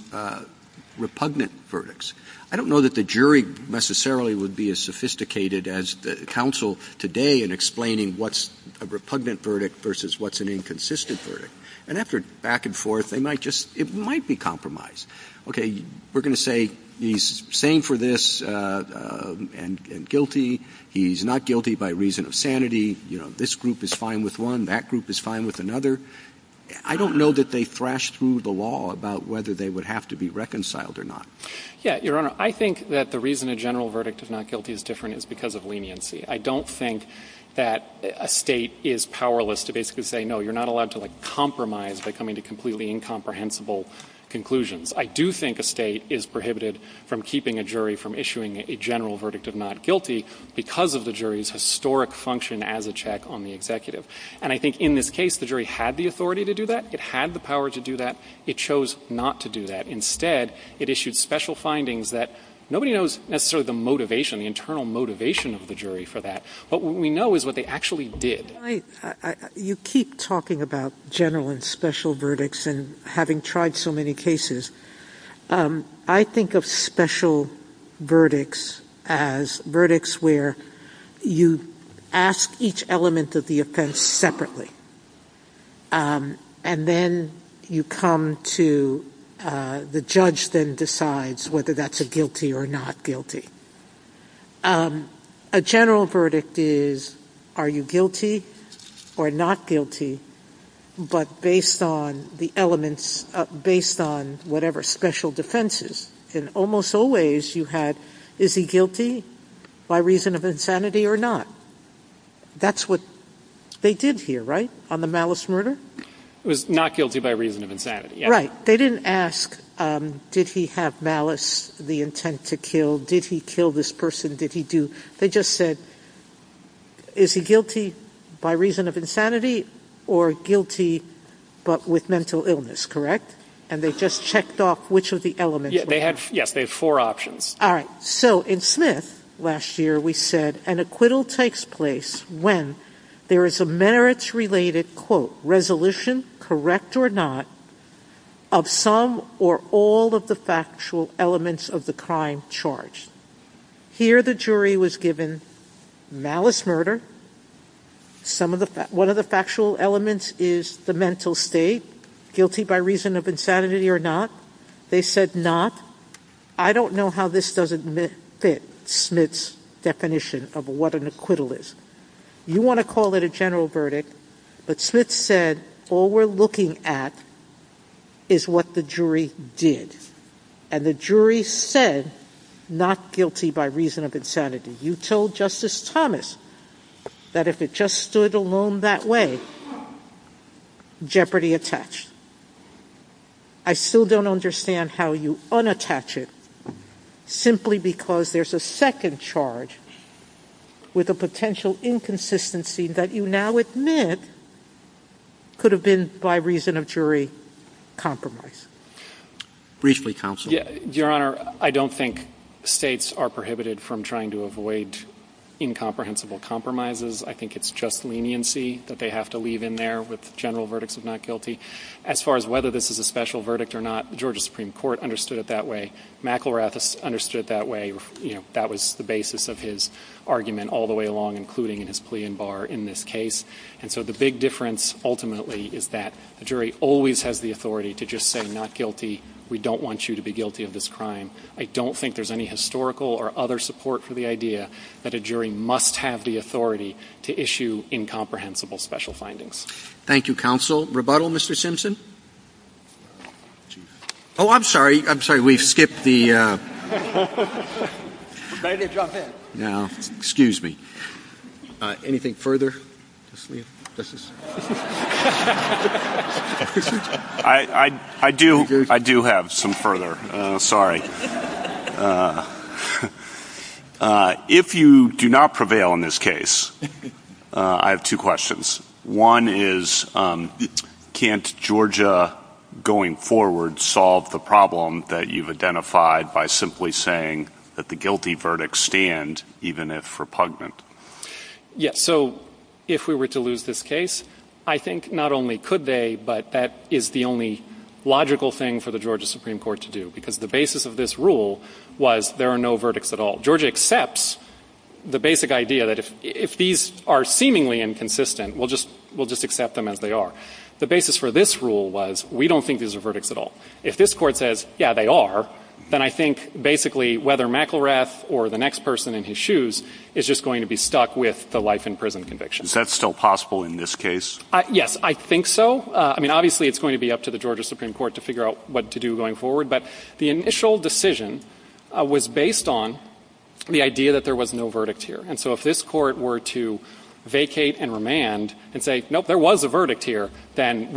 repugnant verdicts. I don't know that the jury necessarily would be as sophisticated as the counsel today in explaining what's a repugnant verdict versus what's an inconsistent verdict. And after back and forth, they might just ---- it might be compromise. Okay. We're going to say he's sane for this and guilty. He's not guilty by reason of sanity. You know, this group is fine with one. That group is fine with another. I don't know that they thrashed through the law about whether they would have to be reconciled or not. Yeah, Your Honor, I think that the reason a general verdict of not guilty is different is because of leniency. I don't think that a State is powerless to basically say, no, you're not allowed to, like, compromise by coming to completely incomprehensible conclusions. I do think a State is prohibited from keeping a jury from issuing a general verdict of not guilty because of the jury's historic function as a check on the executive. And I think in this case, the jury had the authority to do that. It had the power to do that. It chose not to do that. Instead, it issued special findings that nobody knows necessarily the motivation, the internal motivation of the jury for that. But what we know is what they actually did. Sotomayor, you keep talking about general and special verdicts and having tried so many cases. I think of special verdicts as verdicts where you ask each element of the offense separately. And then you come to the judge then decides whether that's a guilty or not guilty. A general verdict is, are you guilty or not guilty, but based on the elements, based on whatever special defenses. And almost always you had, is he guilty by reason of insanity or not? That's what they did here, right, on the malice murder? It was not guilty by reason of insanity. Right. They didn't ask, did he have malice, the intent to kill? Did he kill this person? Did he do? They just said, is he guilty by reason of insanity or guilty but with mental illness, correct? And they just checked off which of the elements. Yes, they had four options. All right. So in Smith last year we said an acquittal takes place when there is a merits related, quote, resolution, correct or not, of some or all of the factual elements of the crime charged. Here the jury was given malice murder. One of the factual elements is the mental state, guilty by reason of insanity or not. They said not. I don't know how this doesn't fit Smith's definition of what an acquittal is. You want to call it a general verdict, but Smith said all we're looking at is what the jury did. And the jury said not guilty by reason of insanity. You told Justice Thomas that if it just stood alone that way, jeopardy attached. I still don't understand how you unattach it simply because there's a second charge with a potential inconsistency that you now admit could have been by reason of jury compromise. Briefly, counsel. Your Honor, I don't think States are prohibited from trying to avoid incomprehensible compromises. I think it's just leniency that they have to leave in there with general verdicts of not guilty. As far as whether this is a special verdict or not, Georgia Supreme Court understood it that way. McElrath understood it that way. That was the basis of his argument all the way along, including in his plea in bar in this case. And so the big difference ultimately is that the jury always has the authority to just say not guilty. We don't want you to be guilty of this crime. I don't think there's any historical or other support for the idea that a jury must have the authority to issue incomprehensible special findings. Roberts. Thank you, counsel. Rebuttal, Mr. Simpson. Oh, I'm sorry. I'm sorry. We've skipped the. Now, excuse me. Anything further? I do. I do have some further. Sorry. If you do not prevail in this case, I have two questions. One is can't Georgia going forward solve the problem that you've identified by simply saying that the guilty verdict stand, even if repugnant? Yeah. So if we were to lose this case, I think not only could they, but that is the only logical thing for the Georgia Supreme Court to do. Because the basis of this rule was there are no verdicts at all. Georgia accepts the basic idea that if these are seemingly inconsistent, we'll just accept them as they are. The basis for this rule was we don't think these are verdicts at all. If this Court says, yeah, they are, then I think basically whether McIlrath or the life in prison conviction. Is that still possible in this case? Yes. I think so. I mean, obviously it's going to be up to the Georgia Supreme Court to figure out what to do going forward. But the initial decision was based on the idea that there was no verdict here. And so if this Court were to vacate and remand and say, nope, there was a verdict here, then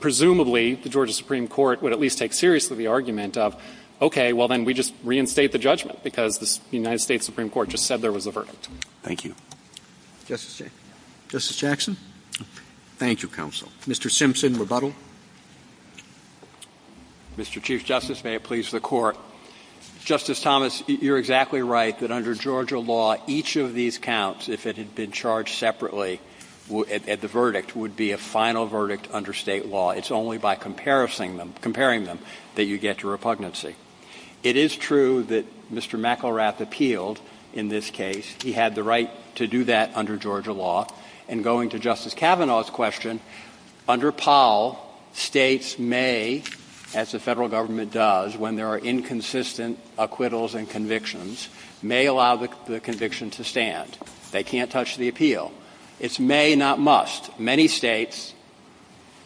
presumably the Georgia Supreme Court would at least take seriously the argument of, okay, well, then we just reinstate the judgment because the United Thank you. Justice Jackson. Thank you, Counsel. Mr. Simpson, rebuttal. Mr. Chief Justice, may it please the Court. Justice Thomas, you're exactly right that under Georgia law, each of these counts, if it had been charged separately at the verdict, would be a final verdict under state law. It's only by comparing them that you get to repugnancy. It is true that Mr. McElrath appealed in this case. He had the right to do that under Georgia law. And going to Justice Kavanaugh's question, under Powell, states may, as the federal government does when there are inconsistent acquittals and convictions, may allow the conviction to stand. They can't touch the appeal. It's may, not must. Many states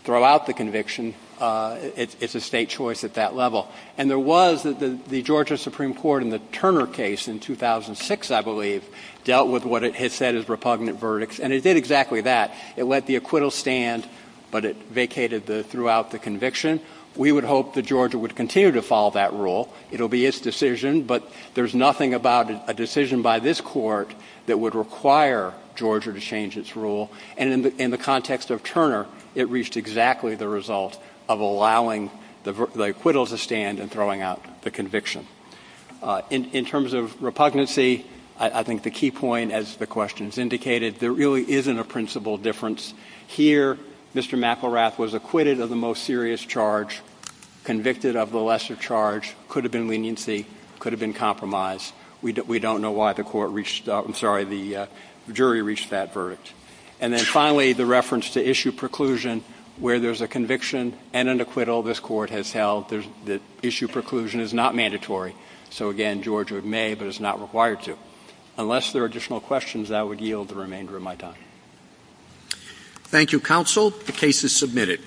throw out the conviction. It's a state choice at that level. And there was the Georgia Supreme Court in the Turner case in 2006, I believe, dealt with what it has said is repugnant verdicts. And it did exactly that. It let the acquittal stand, but it vacated throughout the conviction. We would hope that Georgia would continue to follow that rule. It will be its decision. But there's nothing about a decision by this Court that would require Georgia to change its rule. And in the context of Turner, it reached exactly the result of allowing the acquittal to stand and throwing out the conviction. In terms of repugnancy, I think the key point, as the question has indicated, there really isn't a principal difference here. Mr. McElrath was acquitted of the most serious charge, convicted of the lesser charge. It could have been leniency. It could have been compromise. We don't know why the court reached – I'm sorry, the jury reached that verdict. And then finally, the reference to issue preclusion, where there's a conviction and an acquittal this Court has held, the issue preclusion is not mandatory. So, again, Georgia may, but it's not required to. Unless there are additional questions, that would yield the remainder of my time. Thank you, counsel. The case is submitted.